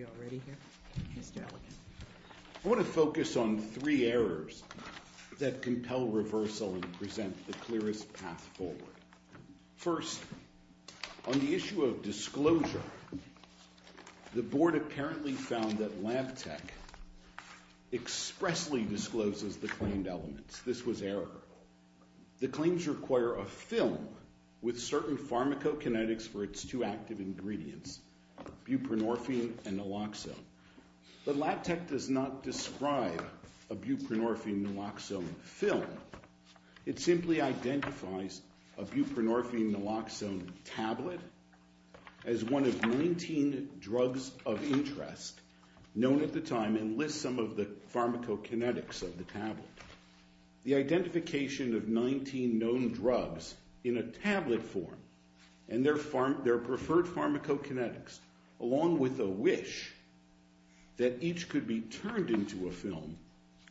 A I want to focus on three errors that compel reversal and present the clearest path forward. First, on the issue of disclosure, the board apparently found that LabTech expressly discloses the claimed elements. This was error. The claims require a film with certain pharmacokinetics for its two active ingredients, buprenorphine and naloxone. But LabTech does not describe a buprenorphine naloxone film. It simply identifies a buprenorphine naloxone tablet as one of 19 drugs of interest known at the time and lists some of the pharmacokinetics of the tablet. The identification of 19 known drugs in a tablet form and their preferred pharmacokinetics along with a wish that each could be turned into a film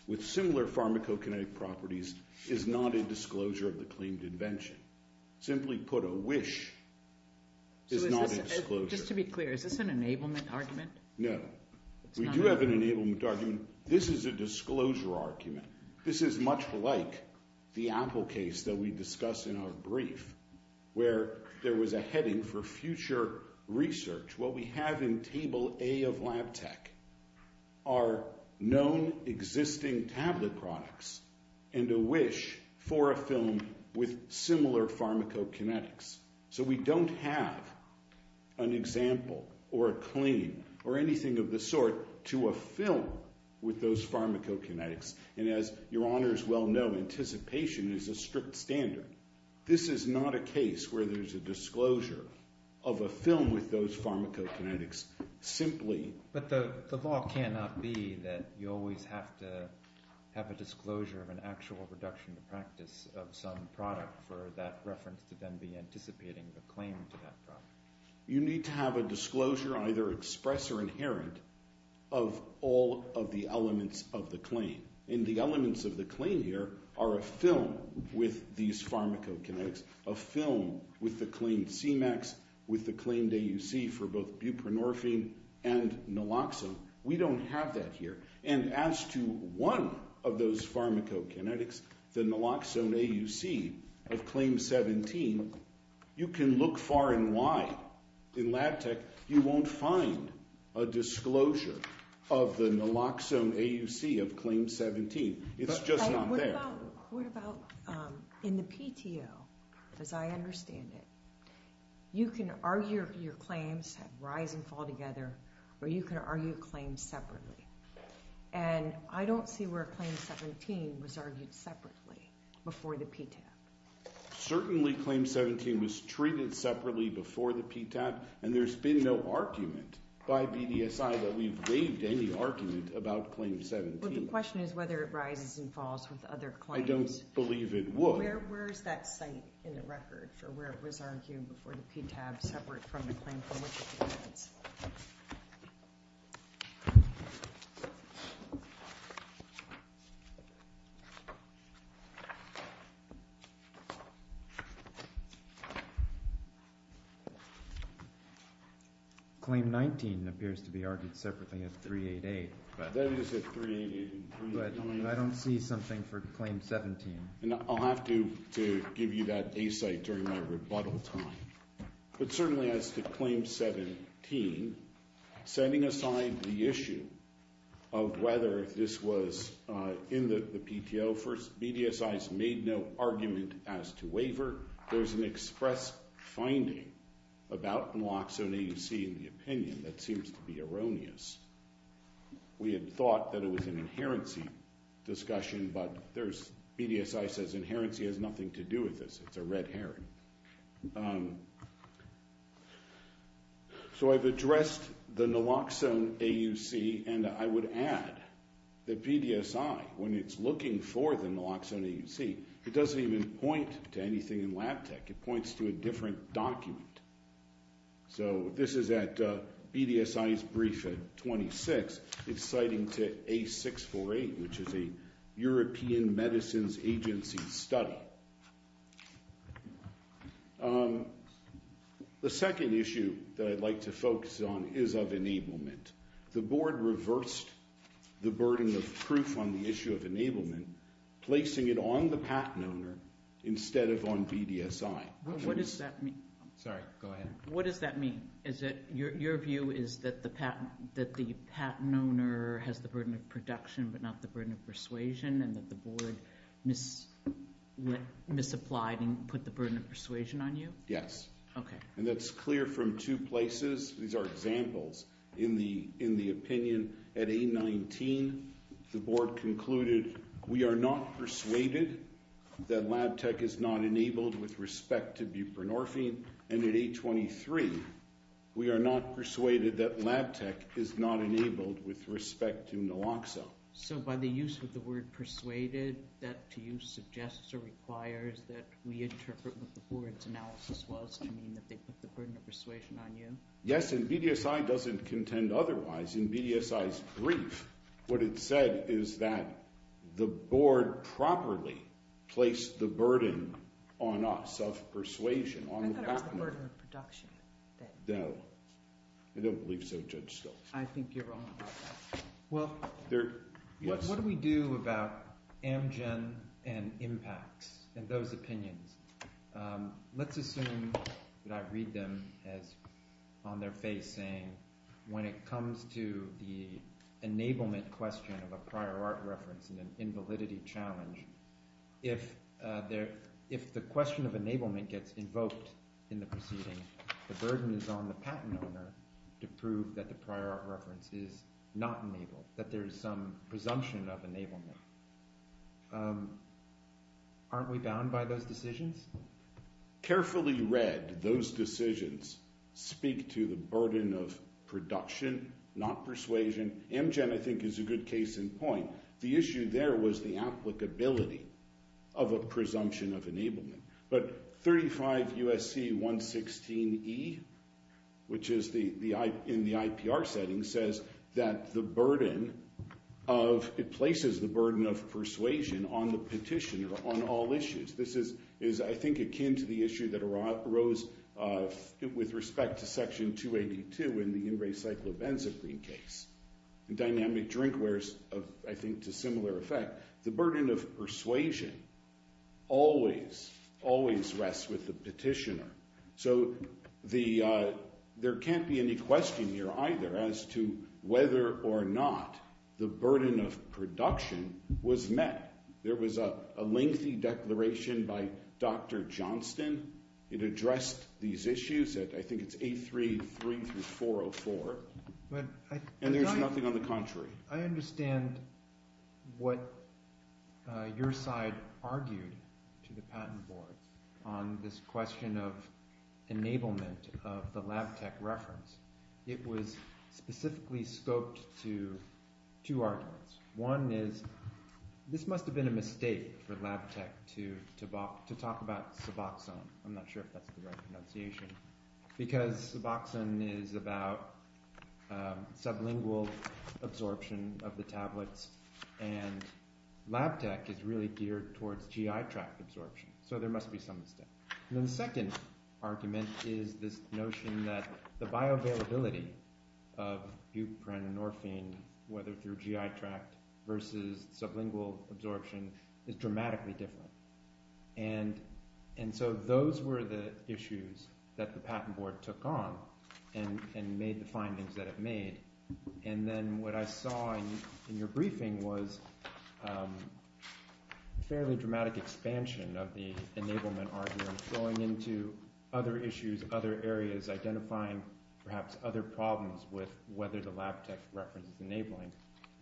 with similar pharmacokinetic properties is not a disclosure of the claimed invention. Simply put, a wish is not a disclosure. Just to be clear, is this an enablement argument? No. We do have an enablement argument. This is a disclosure argument. This is much like the Apple case that we discussed in our brief where there was a heading for future research. What we have in Table A of LabTech are known existing tablet products and a wish for a film with similar pharmacokinetics. So we don't have an example or a claim or anything of the sort to a film with those pharmacokinetics. And as your honors well know, anticipation is a strict standard. This is not a case where there's a disclosure of a film with those pharmacokinetics simply. But the law cannot be that you always have to have a disclosure of an actual reduction to practice of some product for that reference to then be anticipating a claim to that product. You need to have a disclosure, either express or inherent, of all of the elements of the claim. And the elements of the claim here are a film with these pharmacokinetics, a film with the claimed CMAX, with the claimed AUC for both buprenorphine and naloxone. We don't have that here. And as to one of those pharmacokinetics, the naloxone AUC of Claim 17, you can look far and wide in LabTech. You won't find a disclosure of the naloxone AUC of Claim 17. It's just not there. What about in the PTO, as I understand it, you can argue your claims have rise and fall together, or you can argue claims separately. And I don't see where Claim 17 was argued separately before the PTAP. Certainly Claim 17 was treated separately before the PTAP. And there's been no argument by BDSI that we've waived any argument about Claim 17. Well, the question is whether it rises and falls with other claims. I don't believe it would. Where is that site in the record for where it was argued before the PTAP separate from the claim for which it depends? Claim 19 appears to be argued separately at 388. That is at 388. But I don't see something for Claim 17. I'll have to give you that A site during my rebuttal time. But certainly as to Claim 17, setting aside the issue of whether this was in the PTO, BDSI has made no argument as to waiver. However, there's an express finding about Naloxone AUC in the opinion that seems to be erroneous. We had thought that it was an inherency discussion, but BDSI says inherency has nothing to do with this. It's a red herring. So I've addressed the Naloxone AUC. And I would add that BDSI, when it's looking for the Naloxone AUC, it doesn't even point to anything in Lab Tech. It points to a different document. So this is at BDSI's brief at 26. It's citing to A648, which is a European Medicines Agency study. The second issue that I'd like to focus on is of enablement. The board reversed the burden of proof on the issue of enablement, placing it on the patent owner instead of on BDSI. What does that mean? Sorry, go ahead. What does that mean? Is it your view is that the patent owner has the burden of production but not the burden of persuasion? And that the board misapplied and put the burden of persuasion on you? Yes. Okay. And that's clear from two places. These are examples in the opinion. At A19, the board concluded, we are not persuaded that Lab Tech is not enabled with respect to buprenorphine. And at A23, we are not persuaded that Lab Tech is not enabled with respect to Naloxone. So by the use of the word persuaded, that to you suggests or requires that we interpret what the board's analysis was to mean that they put the burden of persuasion on you? Yes, and BDSI doesn't contend otherwise. In BDSI's brief, what it said is that the board properly placed the burden on us of persuasion on the patent owner. I thought it was the burden of production. No. I don't believe so, Judge Stokes. I think you're wrong about that. Well, what do we do about Amgen and impacts and those opinions? Let's assume that I read them as on their face saying when it comes to the enablement question of a prior art reference and an invalidity challenge, if the question of enablement gets invoked in the proceeding, the burden is on the patent owner to prove that the prior art reference is not enabled, that there is some presumption of enablement. Aren't we bound by those decisions? Carefully read, those decisions speak to the burden of production, not persuasion. Amgen, I think, is a good case in point. The issue there was the applicability of a presumption of enablement. But 35 U.S.C. 116E, which is in the IPR setting, says that it places the burden of persuasion on the petitioner on all issues. This is, I think, akin to the issue that arose with respect to Section 282 in the In Re Cyclo Ben Supreme case. Dynamic Drinkware is, I think, to similar effect. The burden of persuasion always, always rests with the petitioner. So there can't be any question here either as to whether or not the burden of production was met. There was a lengthy declaration by Dr. Johnston. It addressed these issues. I think it's 833 through 404. And there's nothing on the contrary. I understand what your side argued to the patent board on this question of enablement of the Lab Tech reference. It was specifically scoped to two arguments. One is this must have been a mistake for Lab Tech to talk about Suboxone. I'm not sure if that's the right pronunciation. Because Suboxone is about sublingual absorption of the tablets, and Lab Tech is really geared towards GI tract absorption. So there must be some mistake. And then the second argument is this notion that the bioavailability of buprenorphine, whether through GI tract versus sublingual absorption, is dramatically different. And so those were the issues that the patent board took on and made the findings that it made. And then what I saw in your briefing was a fairly dramatic expansion of the enablement argument going into other issues, other areas, identifying perhaps other problems with whether the Lab Tech reference is enabling.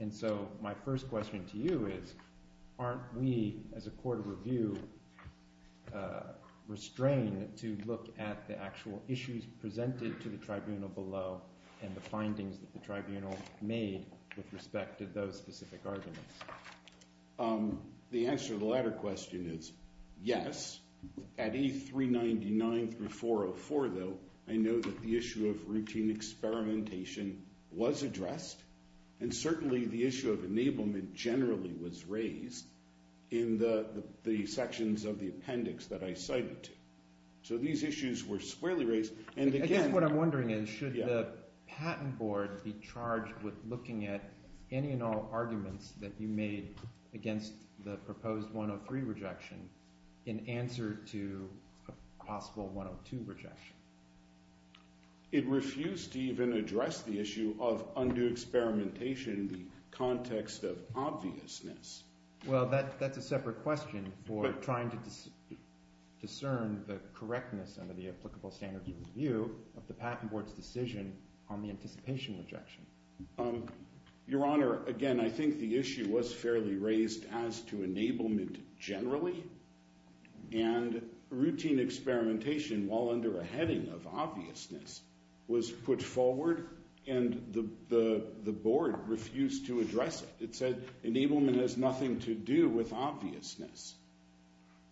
And so my first question to you is, aren't we as a court of review restrained to look at the actual issues presented to the tribunal below and the findings that the tribunal made with respect to those specific arguments? The answer to the latter question is yes. At 8399 through 404, though, I know that the issue of routine experimentation was addressed. And certainly the issue of enablement generally was raised in the sections of the appendix that I cited to. So these issues were squarely raised. And again— I guess what I'm wondering is should the patent board be charged with looking at any and all arguments that you made against the proposed 103 rejection in answer to a possible 102 rejection? It refused to even address the issue of undue experimentation in the context of obviousness. Well, that's a separate question for trying to discern the correctness under the applicable standards of review of the patent board's decision on the anticipation rejection. Your Honor, again, I think the issue was fairly raised as to enablement generally. And routine experimentation while under a heading of obviousness was put forward, and the board refused to address it. It said enablement has nothing to do with obviousness.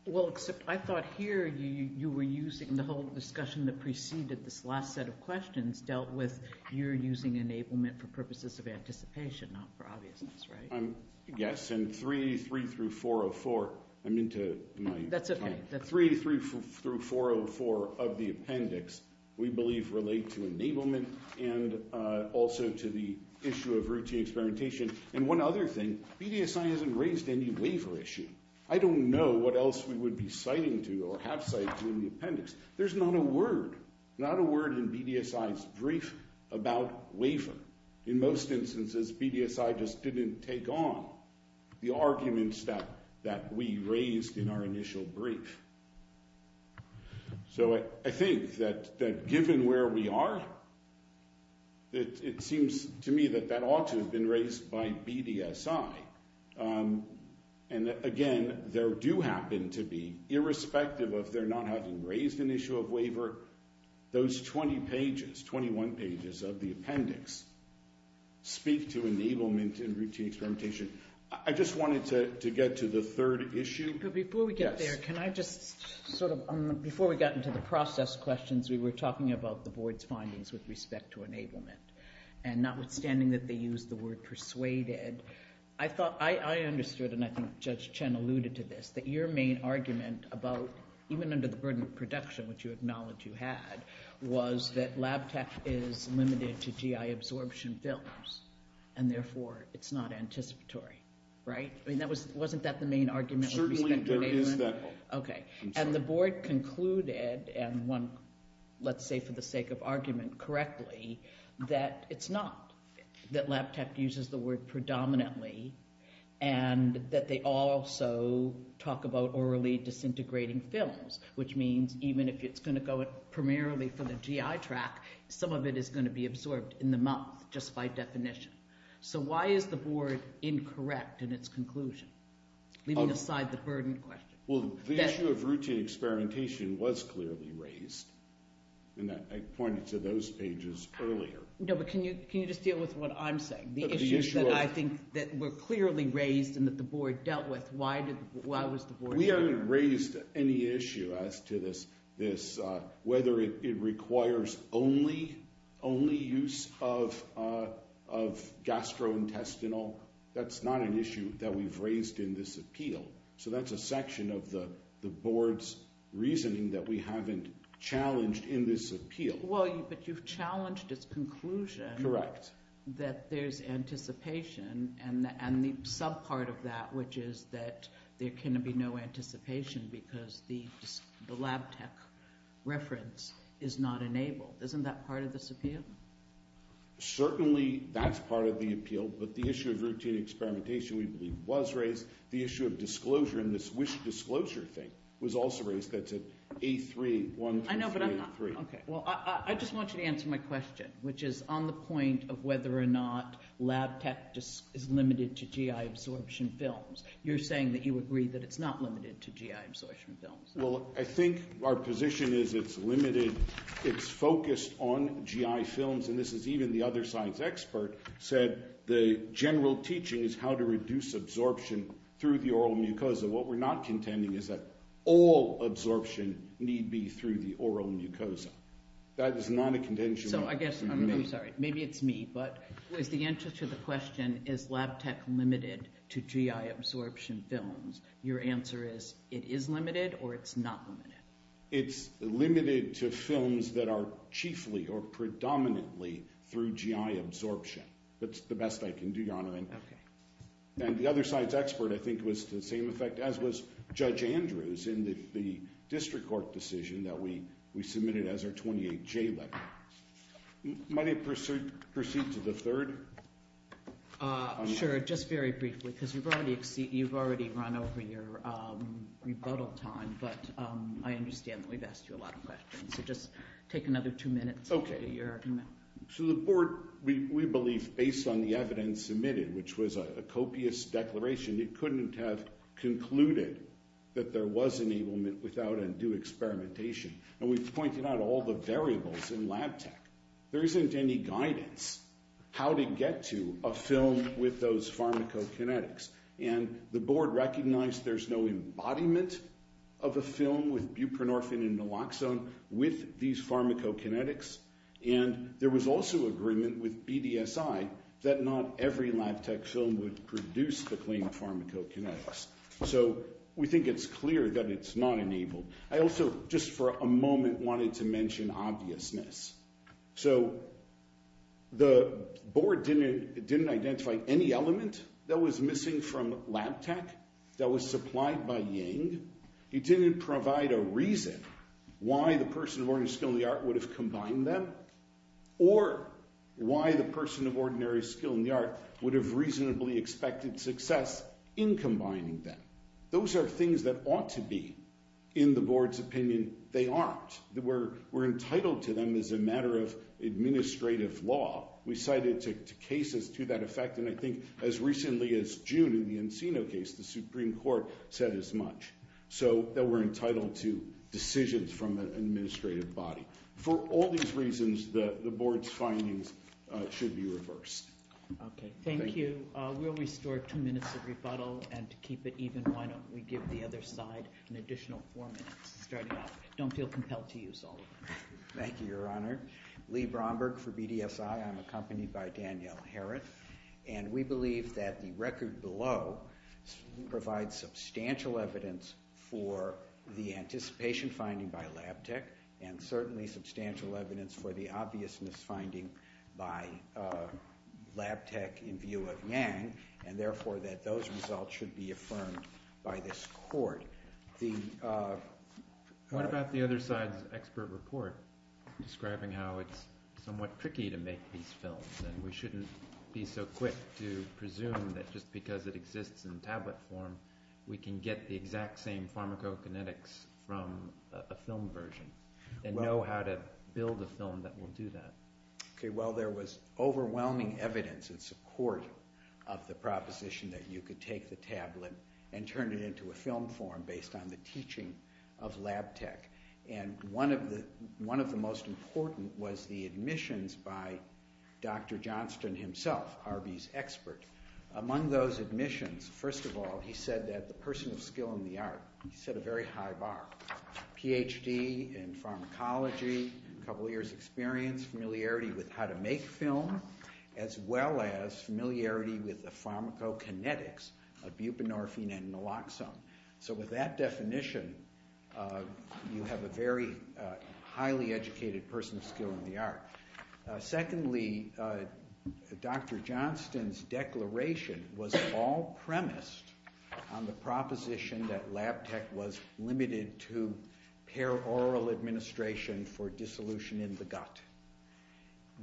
Well, except I thought here you were using the whole discussion that preceded this last set of questions dealt with you're using enablement for purposes of anticipation, not for obviousness, right? Yes. And 383 through 404—I'm into my time. That's okay. 383 through 404 of the appendix we believe relate to enablement and also to the issue of routine experimentation. And one other thing, BDSI hasn't raised any waiver issue. I don't know what else we would be citing to or have cited in the appendix. There's not a word, not a word in BDSI's brief about waiver. In most instances, BDSI just didn't take on the arguments that we raised in our initial brief. So I think that given where we are, it seems to me that that ought to have been raised by BDSI. And, again, there do happen to be, irrespective of their not having raised an issue of waiver, those 20 pages, 21 pages of the appendix speak to enablement and routine experimentation. I just wanted to get to the third issue. Before we get there, can I just sort of—before we got into the process questions, we were talking about the board's findings with respect to enablement. And notwithstanding that they used the word persuaded, I thought—I understood, and I think Judge Chen alluded to this, that your main argument about, even under the burden of production, which you acknowledge you had, was that lab tech is limited to GI absorption films and, therefore, it's not anticipatory. Right? I mean, wasn't that the main argument with respect to enablement? Certainly there is that. Okay. And the board concluded, and one, let's say for the sake of argument, correctly, that it's not, that lab tech uses the word predominantly, and that they also talk about orally disintegrating films, which means even if it's going to go primarily for the GI track, some of it is going to be absorbed in the month just by definition. So why is the board incorrect in its conclusion, leaving aside the burden question? Well, the issue of routine experimentation was clearly raised, and I pointed to those pages earlier. No, but can you just deal with what I'm saying? The issues that I think were clearly raised and that the board dealt with, why was the board— We haven't raised any issue as to this, whether it requires only use of gastrointestinal. That's not an issue that we've raised in this appeal. So that's a section of the board's reasoning that we haven't challenged in this appeal. Well, but you've challenged its conclusion that there's anticipation, and the subpart of that, which is that there can be no anticipation because the lab tech reference is not enabled. Isn't that part of this appeal? Certainly that's part of the appeal, but the issue of routine experimentation we believe was raised. The issue of disclosure in this wish disclosure thing was also raised. That's at A3, 1, 2, 3, 3. I know, but I'm not—okay. Well, I just want you to answer my question, which is on the point of whether or not lab tech is limited to GI absorption films. You're saying that you agree that it's not limited to GI absorption films. Well, I think our position is it's limited. It's focused on GI films, and this is even the other science expert said the general teaching is how to reduce absorption through the oral mucosa. What we're not contending is that all absorption need be through the oral mucosa. That is not a contention. So I guess—I'm sorry. Maybe it's me, but is the answer to the question, is lab tech limited to GI absorption films, your answer is it is limited or it's not limited? It's limited to films that are chiefly or predominantly through GI absorption. That's the best I can do, Your Honor. Okay. And the other science expert I think was to the same effect as was Judge Andrews in the district court decision that we submitted as our 28J letter. Might I proceed to the third? Sure. Just very briefly because you've already run over your rebuttal time, but I understand that we've asked you a lot of questions. So just take another two minutes. Okay. So the board, we believe, based on the evidence submitted, which was a copious declaration, it couldn't have concluded that there was enablement without undue experimentation. And we've pointed out all the variables in lab tech. There isn't any guidance how to get to a film with those pharmacokinetics. And the board recognized there's no embodiment of a film with buprenorphine and naloxone with these pharmacokinetics. And there was also agreement with BDSI that not every lab tech film would produce the claimed pharmacokinetics. So we think it's clear that it's not enabled. I also just for a moment wanted to mention obviousness. So the board didn't identify any element that was missing from lab tech that was supplied by Ying. He didn't provide a reason why the person of ordinary skill in the art would have combined them or why the person of ordinary skill in the art would have reasonably expected success in combining them. Those are things that ought to be in the board's opinion. They aren't. We're entitled to them as a matter of administrative law. We cite it to cases to that effect. And I think as recently as June in the Encino case, the Supreme Court said as much, so that we're entitled to decisions from an administrative body. For all these reasons, the board's findings should be reversed. Okay. Thank you. We'll restore two minutes of rebuttal. And to keep it even, why don't we give the other side an additional four minutes starting off. Don't feel compelled to use all of them. Thank you, Your Honor. Lee Bromberg for BDSI. I'm accompanied by Danielle Harrett. And we believe that the record below provides substantial evidence for the anticipation finding by Lab Tech and certainly substantial evidence for the obviousness finding by Lab Tech in view of Yang, and therefore that those results should be affirmed by this court. What about the other side's expert report describing how it's somewhat tricky to make these films and we shouldn't be so quick to presume that just because it exists in tablet form, we can get the exact same pharmacokinetics from a film version and know how to build a film that will do that. Okay. Well, there was overwhelming evidence in support of the proposition that you could take the tablet and turn it into a film form based on the teaching of Lab Tech. And one of the most important was the admissions by Dr. Johnston himself, Harvey's expert. Among those admissions, first of all, he said that the person of skill in the art set a very high bar. Ph.D. in pharmacology, a couple years' experience, familiarity with how to make film, as well as familiarity with the pharmacokinetics of buprenorphine and naloxone. So with that definition, you have a very highly educated person of skill in the art. Secondly, Dr. Johnston's declaration was all premised on the proposition that Lab Tech was limited to paraoral administration for dissolution in the gut.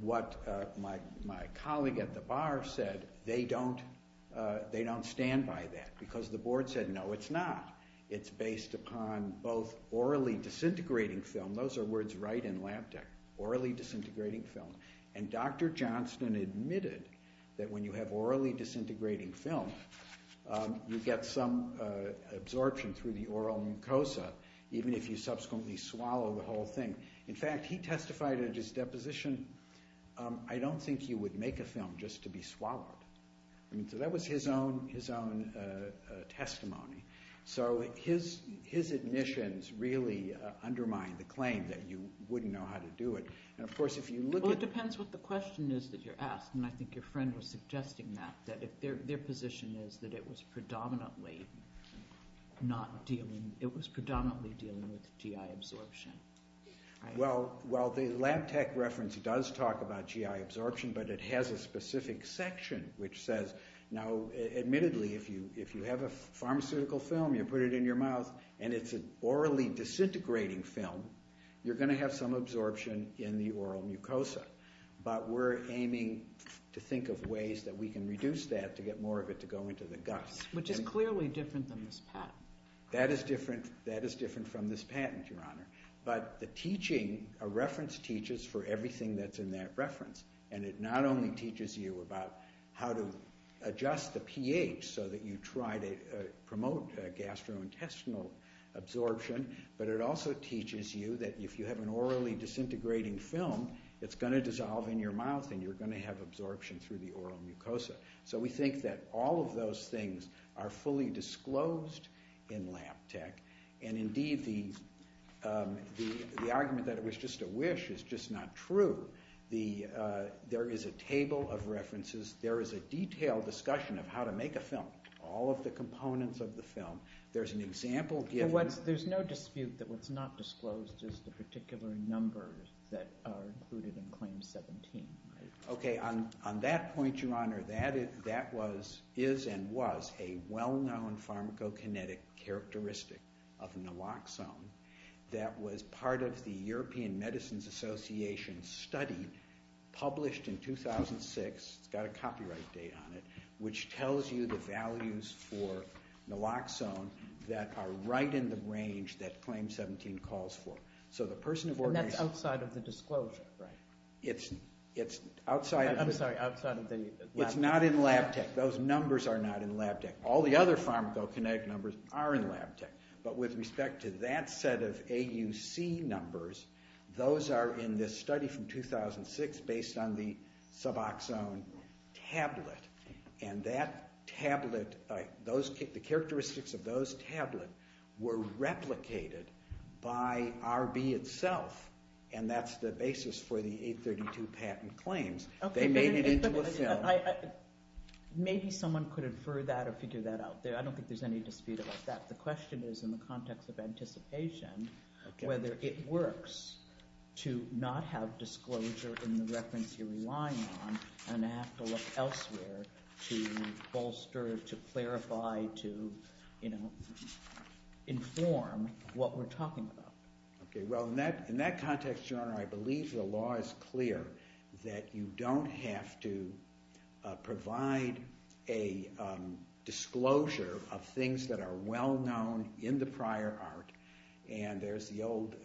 What my colleague at the bar said, they don't stand by that because the board said, no, it's not. It's based upon both orally disintegrating film. Those are words right in Lab Tech, orally disintegrating film. And Dr. Johnston admitted that when you have orally disintegrating film, you get some absorption through the oral mucosa, even if you subsequently swallow the whole thing. In fact, he testified in his deposition, I don't think you would make a film just to be swallowed. So that was his own testimony. So his admissions really undermine the claim that you wouldn't know how to do it. And of course, if you look at- Well, it depends what the question is that you're asking. And I think your friend was suggesting that, that their position is that it was predominantly dealing with GI absorption. Well, the Lab Tech reference does talk about GI absorption, but it has a specific section which says, now admittedly, if you have a pharmaceutical film, you put it in your mouth, and it's an orally disintegrating film, you're going to have some absorption in the oral mucosa. But we're aiming to think of ways that we can reduce that to get more of it to go into the gut. Which is clearly different than this patent. That is different from this patent, Your Honor. But the teaching, a reference teaches for everything that's in that reference. And it not only teaches you about how to adjust the pH so that you try to promote gastrointestinal absorption, but it also teaches you that if you have an orally disintegrating film, it's going to dissolve in your mouth and you're going to have absorption through the oral mucosa. So we think that all of those things are fully disclosed in Lab Tech. And indeed, the argument that it was just a wish is just not true. There is a table of references. There is a detailed discussion of how to make a film, all of the components of the film. There's an example given. There's no dispute that what's not disclosed is the particular numbers that are included in Claim 17. Okay, on that point, Your Honor, that is and was a well-known pharmacokinetic characteristic of naloxone that was part of the European Medicines Association study published in 2006. It's got a copyright date on it, which tells you the values for naloxone that are right in the range that Claim 17 calls for. And that's outside of the disclosure, right? I'm sorry, outside of the Lab Tech? It's not in Lab Tech. Those numbers are not in Lab Tech. All the other pharmacokinetic numbers are in Lab Tech. But with respect to that set of AUC numbers, those are in this study from 2006 based on the Suboxone tablet. And that tablet, the characteristics of those tablets were replicated by RB itself, and that's the basis for the 832 patent claims. They made it into a film. Maybe someone could infer that or figure that out. I don't think there's any dispute about that. The question is, in the context of anticipation, whether it works to not have disclosure in the reference you're relying on and have to look elsewhere to bolster, to clarify, to inform what we're talking about. Okay, well, in that context, Your Honor, I believe the law is clear that you don't have to provide a disclosure of things that are well-known in the prior art. And there's the old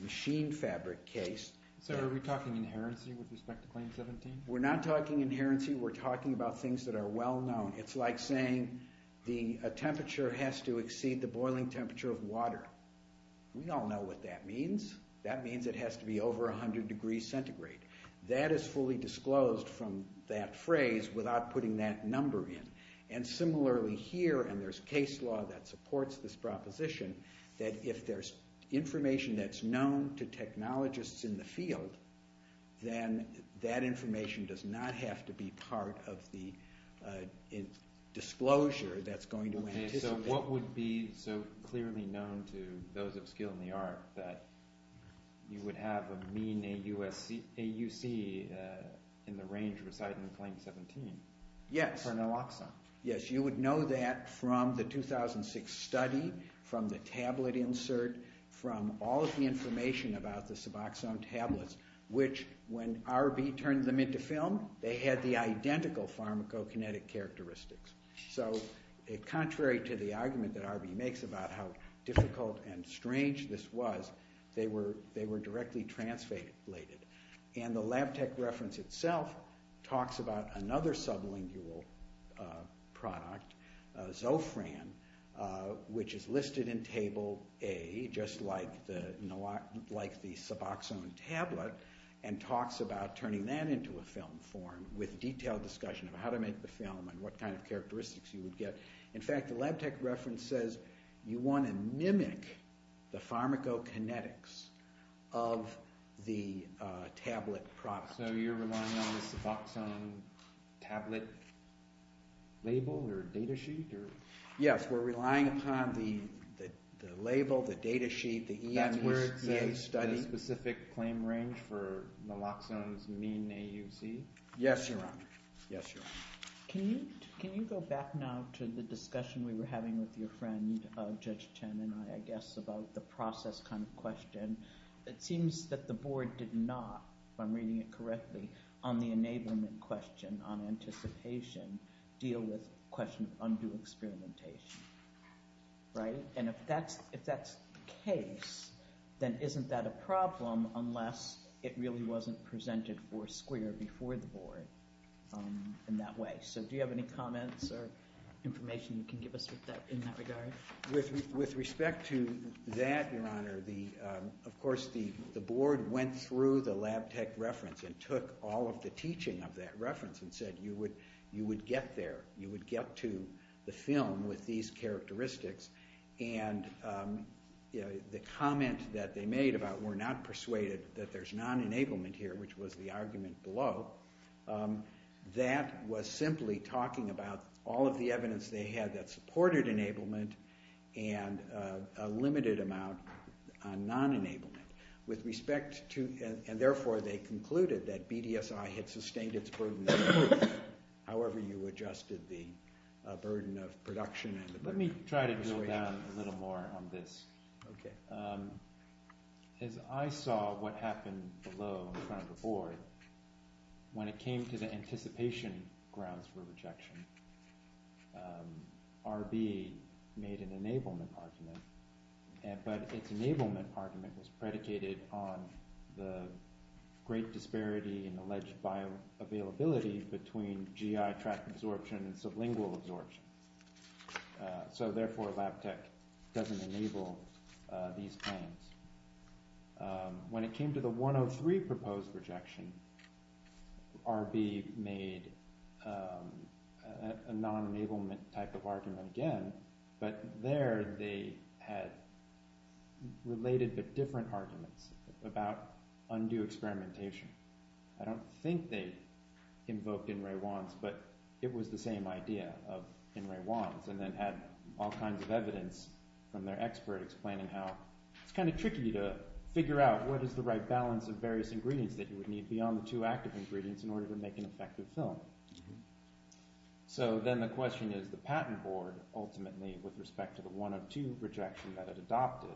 machine fabric case. So are we talking inherency with respect to Claim 17? We're not talking inherency. We're talking about things that are well-known. It's like saying a temperature has to exceed the boiling temperature of water. We all know what that means. That means it has to be over 100 degrees centigrade. That is fully disclosed from that phrase without putting that number in. And similarly here, and there's case law that supports this proposition, that if there's information that's known to technologists in the field, then that information does not have to be part of the disclosure that's going to anticipate. Okay, so what would be so clearly known to those of skill in the art that you would have a mean AUC in the range of a site in Claim 17? Yes. For Naloxone. Yes, you would know that from the 2006 study, from the tablet insert, from all of the information about the Suboxone tablets, which when RB turned them into film, they had the identical pharmacokinetic characteristics. So contrary to the argument that RB makes about how difficult and strange this was, they were directly translated. And the Lab Tech reference itself talks about another sublingual product, Zofran, which is listed in Table A, just like the Suboxone tablet, and talks about turning that into a film form with detailed discussion of how to make the film and what kind of characteristics you would get. In fact, the Lab Tech reference says you want to mimic the pharmacokinetics of the tablet product. So you're relying on the Suboxone tablet label or data sheet? Yes, we're relying upon the label, the data sheet, the EMCA study. That's where it says specific claim range for Naloxone's mean AUC? Yes, Your Honor. Yes, Your Honor. Can you go back now to the discussion we were having with your friend, Judge Chen and I, I guess, about the process kind of question? It seems that the board did not, if I'm reading it correctly, on the enablement question, on anticipation, deal with the question of undue experimentation, right? And if that's the case, then isn't that a problem unless it really wasn't presented for a square before the board in that way? So do you have any comments or information you can give us in that regard? With respect to that, Your Honor, of course, the board went through the Lab Tech reference and took all of the teaching of that reference and said you would get there. You would get to the film with these characteristics, and the comment that they made about we're not persuaded that there's non-enablement here, which was the argument below, that was simply talking about all of the evidence they had that supported enablement and a limited amount on non-enablement. With respect to – and therefore they concluded that BDSI had sustained its burden, however you adjusted the burden of production and the burden of persuasion. Let me try to drill down a little more on this. Okay. As I saw what happened below in front of the board, when it came to the anticipation grounds for rejection, RB made an enablement argument, but its enablement argument was predicated on the great disparity in alleged bioavailability between GI tract absorption and sublingual absorption. So therefore Lab Tech doesn't enable these claims. When it came to the 103 proposed rejection, RB made a non-enablement type of argument again, but there they had related but different arguments about undue experimentation. I don't think they invoked N. Ray Wands, but it was the same idea of N. Ray Wands, and then had all kinds of evidence from their expert explaining how it's kind of tricky to figure out what is the right balance of various ingredients that you would need beyond the two active ingredients in order to make an effective film. So then the question is, the patent board ultimately, with respect to the 102 rejection that it adopted,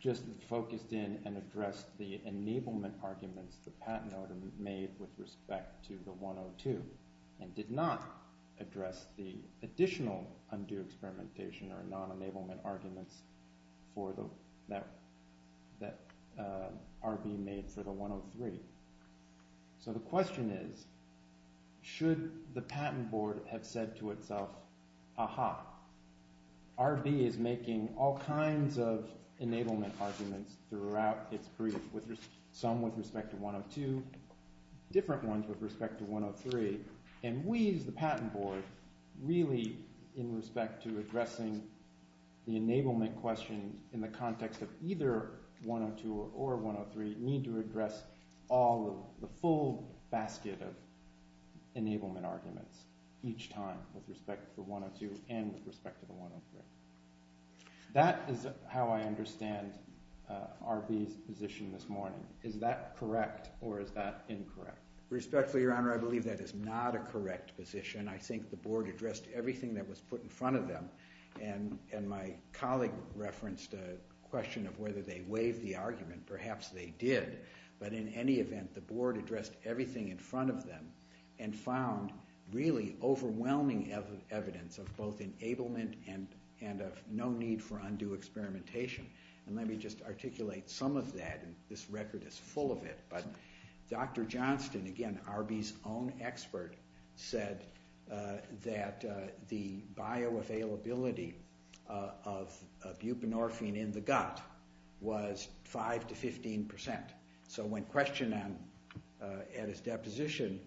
just focused in and addressed the enablement arguments the patent order made with respect to the 102, and did not address the additional undue experimentation or non-enablement arguments that RB made for the 103. So the question is, should the patent board have said to itself, aha, RB is making all kinds of enablement arguments throughout its brief, some with respect to 102, different ones with respect to 103, and we as the patent board really, in respect to addressing the enablement question in the context of either 102 or 103, need to address all of the full basket of enablement arguments each time with respect to 102 and with respect to the 103. That is how I understand RB's position this morning. Is that correct or is that incorrect? Respectfully, Your Honor, I believe that is not a correct position. I think the board addressed everything that was put in front of them, and my colleague referenced a question of whether they waived the argument. Perhaps they did, but in any event, the board addressed everything in front of them and found really overwhelming evidence of both enablement and of no need for undue experimentation. Let me just articulate some of that. This record is full of it, but Dr. Johnston, again, RB's own expert, said that the bioavailability of buprenorphine in the gut was 5 to 15 percent. So when questioned at his deposition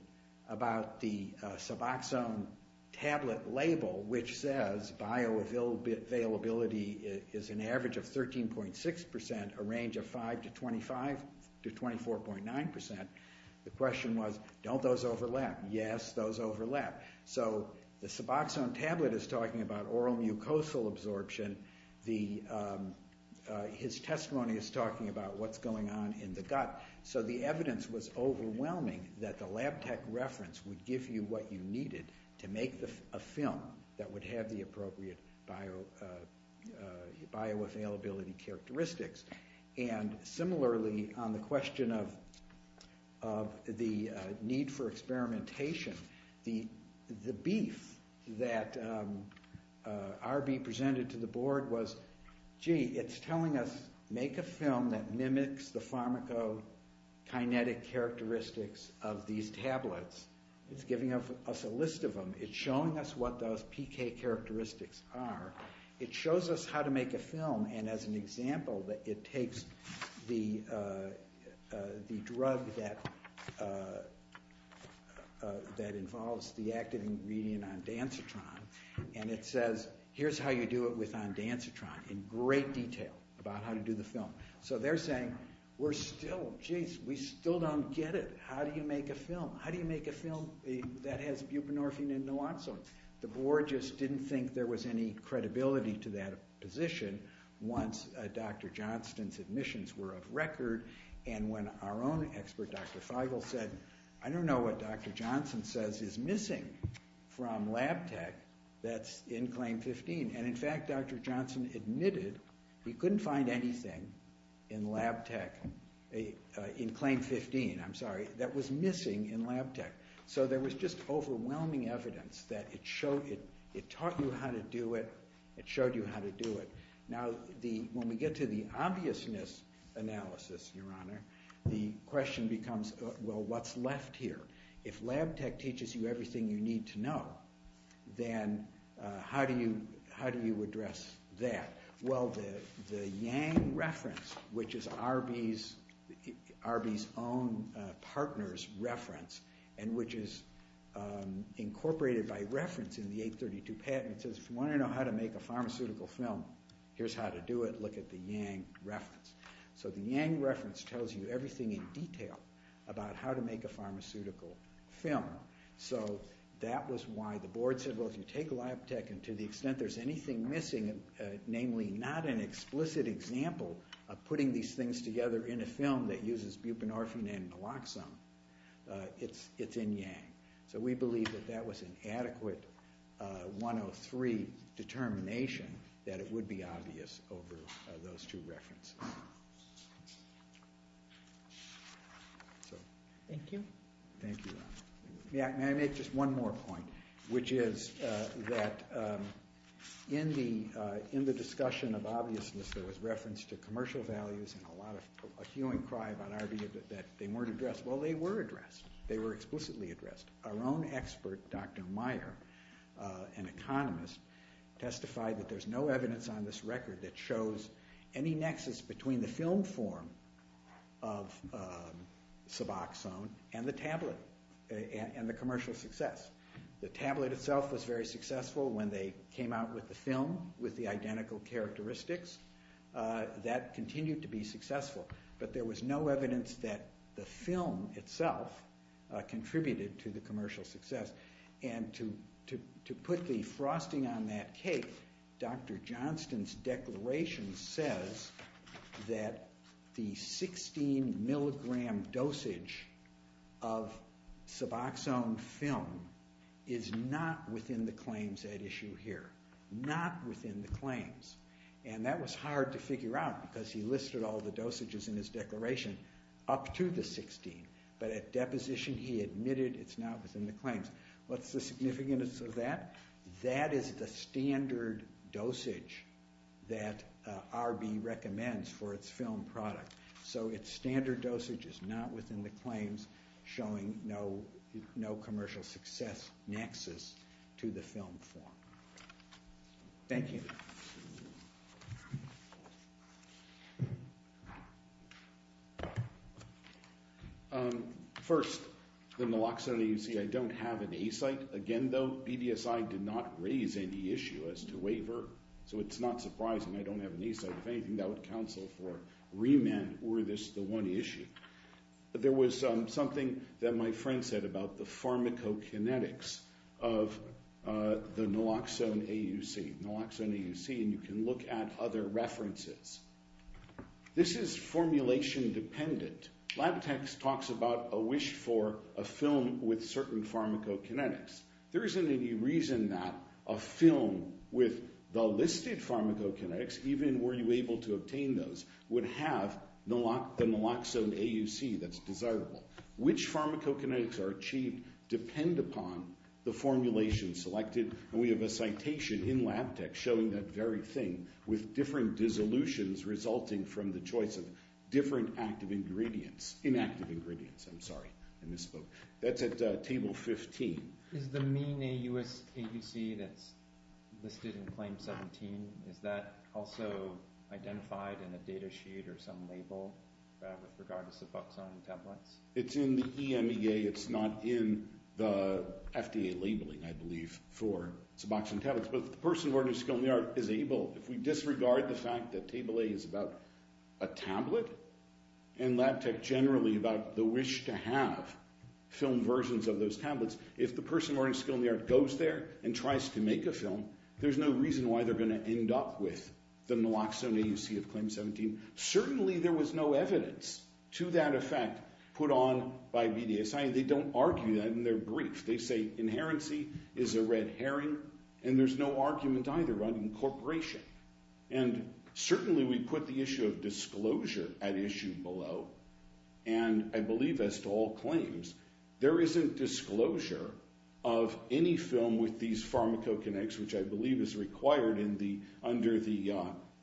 about the Suboxone tablet label, which says bioavailability is an average of 13.6 percent, a range of 5 to 25 to 24.9 percent, the question was, don't those overlap? Yes, those overlap. So the Suboxone tablet is talking about oral mucosal absorption. His testimony is talking about what's going on in the gut. So the evidence was overwhelming that the lab tech reference would give you what you needed to make a film that would have the appropriate bioavailability characteristics. And similarly, on the question of the need for experimentation, the beef that RB presented to the board was, gee, it's telling us make a film that mimics the pharmacokinetic characteristics of these tablets. It's giving us a list of them. It's showing us what those PK characteristics are. It shows us how to make a film, and as an example, it takes the drug that involves the active ingredient ondansetron, and it says, here's how you do it with ondansetron in great detail about how to do the film. So they're saying, we're still, geez, we still don't get it. How do you make a film? How do you make a film that has buprenorphine and naloxone? The board just didn't think there was any credibility to that position once Dr. Johnston's admissions were of record, and when our own expert, Dr. Feigl, said, I don't know what Dr. Johnston says is missing from lab tech, that's in claim 15. And in fact, Dr. Johnston admitted he couldn't find anything in lab tech, in claim 15, I'm sorry, that was missing in lab tech. So there was just overwhelming evidence that it taught you how to do it, it showed you how to do it. Now, when we get to the obviousness analysis, Your Honor, the question becomes, well, what's left here? If lab tech teaches you everything you need to know, then how do you address that? Well, the Yang reference, which is Arby's own partner's reference, and which is incorporated by reference in the 832 patent, it says, if you want to know how to make a pharmaceutical film, here's how to do it, look at the Yang reference. So the Yang reference tells you everything in detail about how to make a pharmaceutical film. So that was why the board said, well, if you take lab tech, and to the extent there's anything missing, namely not an explicit example of putting these things together in a film that uses buprenorphine and naloxone, it's in Yang. So we believe that that was an adequate 103 determination that it would be obvious over those two references. Thank you. Thank you, Your Honor. May I make just one more point, which is that in the discussion of obviousness, there was reference to commercial values and a lot of, a hue and cry about Arby that they weren't addressed. Well, they were addressed. They were explicitly addressed. Our own expert, Dr. Meyer, an economist, testified that there's no evidence on this record that shows any nexus between the film form of suboxone and the tablet and the commercial success. The tablet itself was very successful when they came out with the film with the identical characteristics. That continued to be successful. But there was no evidence that the film itself contributed to the commercial success. And to put the frosting on that cake, Dr. Johnston's declaration says that the 16 milligram dosage of suboxone film is not within the claims at issue here. Not within the claims. And that was hard to figure out because he listed all the dosages in his declaration up to the 16. But at deposition, he admitted it's not within the claims. What's the significance of that? That is the standard dosage that Arby recommends for its film product. So its standard dosage is not within the claims, showing no commercial success nexus to the film form. Thank you. First, the naloxone AUC. I don't have an A-site. Again, though, BDSI did not raise any issue as to waiver. So it's not surprising I don't have an A-site. If anything, that would counsel for remand were this the one issue. There was something that my friend said about the pharmacokinetics of the naloxone AUC. Naloxone AUC, and you can look at other references. This is formulation dependent. Lab Tech talks about a wish for a film with certain pharmacokinetics. There isn't any reason that a film with the listed pharmacokinetics, even were you able to obtain those, would have the naloxone AUC that's desirable. Which pharmacokinetics are achieved depend upon the formulation selected. We have a citation in Lab Tech showing that very thing with different dissolutions resulting from the choice of different inactive ingredients. I'm sorry, I misspoke. That's at table 15. Is the mean AUC that's listed in claim 17, is that also identified in a data sheet or some label with regard to suboxone templates? It's in the EMEA. It's not in the FDA labeling, I believe, for suboxone tablets. But if the person of ordinary skill in the art is able, if we disregard the fact that table A is about a tablet, and Lab Tech generally about the wish to have film versions of those tablets, if the person of ordinary skill in the art goes there and tries to make a film, there's no reason why they're going to end up with the naloxone AUC of claim 17. Certainly there was no evidence to that effect put on by BDSI. They don't argue that in their brief. They say inherency is a red herring, and there's no argument either about incorporation. And certainly we put the issue of disclosure at issue below, and I believe as to all claims, there isn't disclosure of any film with these pharmacokinetics, which I believe is required under the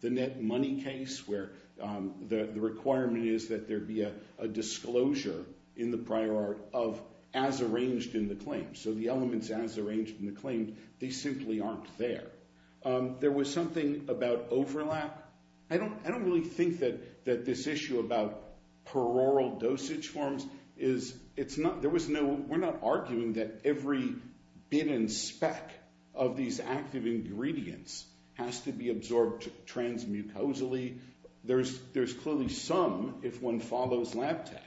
net money case, where the requirement is that there be a disclosure in the prior art of as arranged in the claim. So the elements as arranged in the claim, they simply aren't there. There was something about overlap. I don't really think that this issue about paroral dosage forms is, it's not, there was no, we're not arguing that every bit and speck of these active ingredients has to be absorbed transmucosally. There's clearly some, if one follows lab tech,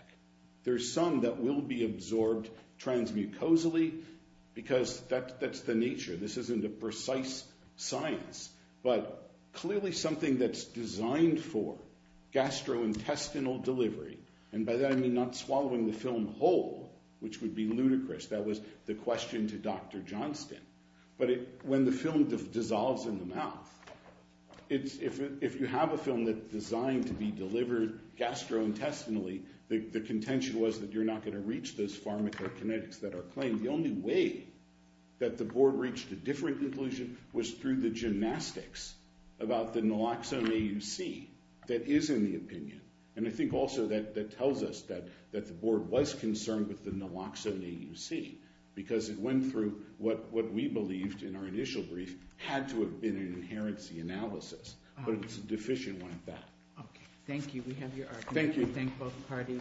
there's some that will be absorbed transmucosally because that's the nature. This isn't a precise science, but clearly something that's designed for gastrointestinal delivery, and by that I mean not swallowing the film whole, which would be ludicrous. That was the question to Dr. Johnston. But when the film dissolves in the mouth, if you have a film that's designed to be delivered gastrointestinally, the contention was that you're not going to reach those pharmacokinetics that are claimed. The only way that the board reached a different conclusion was through the gymnastics about the naloxone AUC that is in the opinion. And I think also that tells us that the board was concerned with the naloxone AUC because it went through what we believed in our initial brief had to have been an inherency analysis, but it's a deficient one at that. Okay, thank you. We have your argument. Thank you.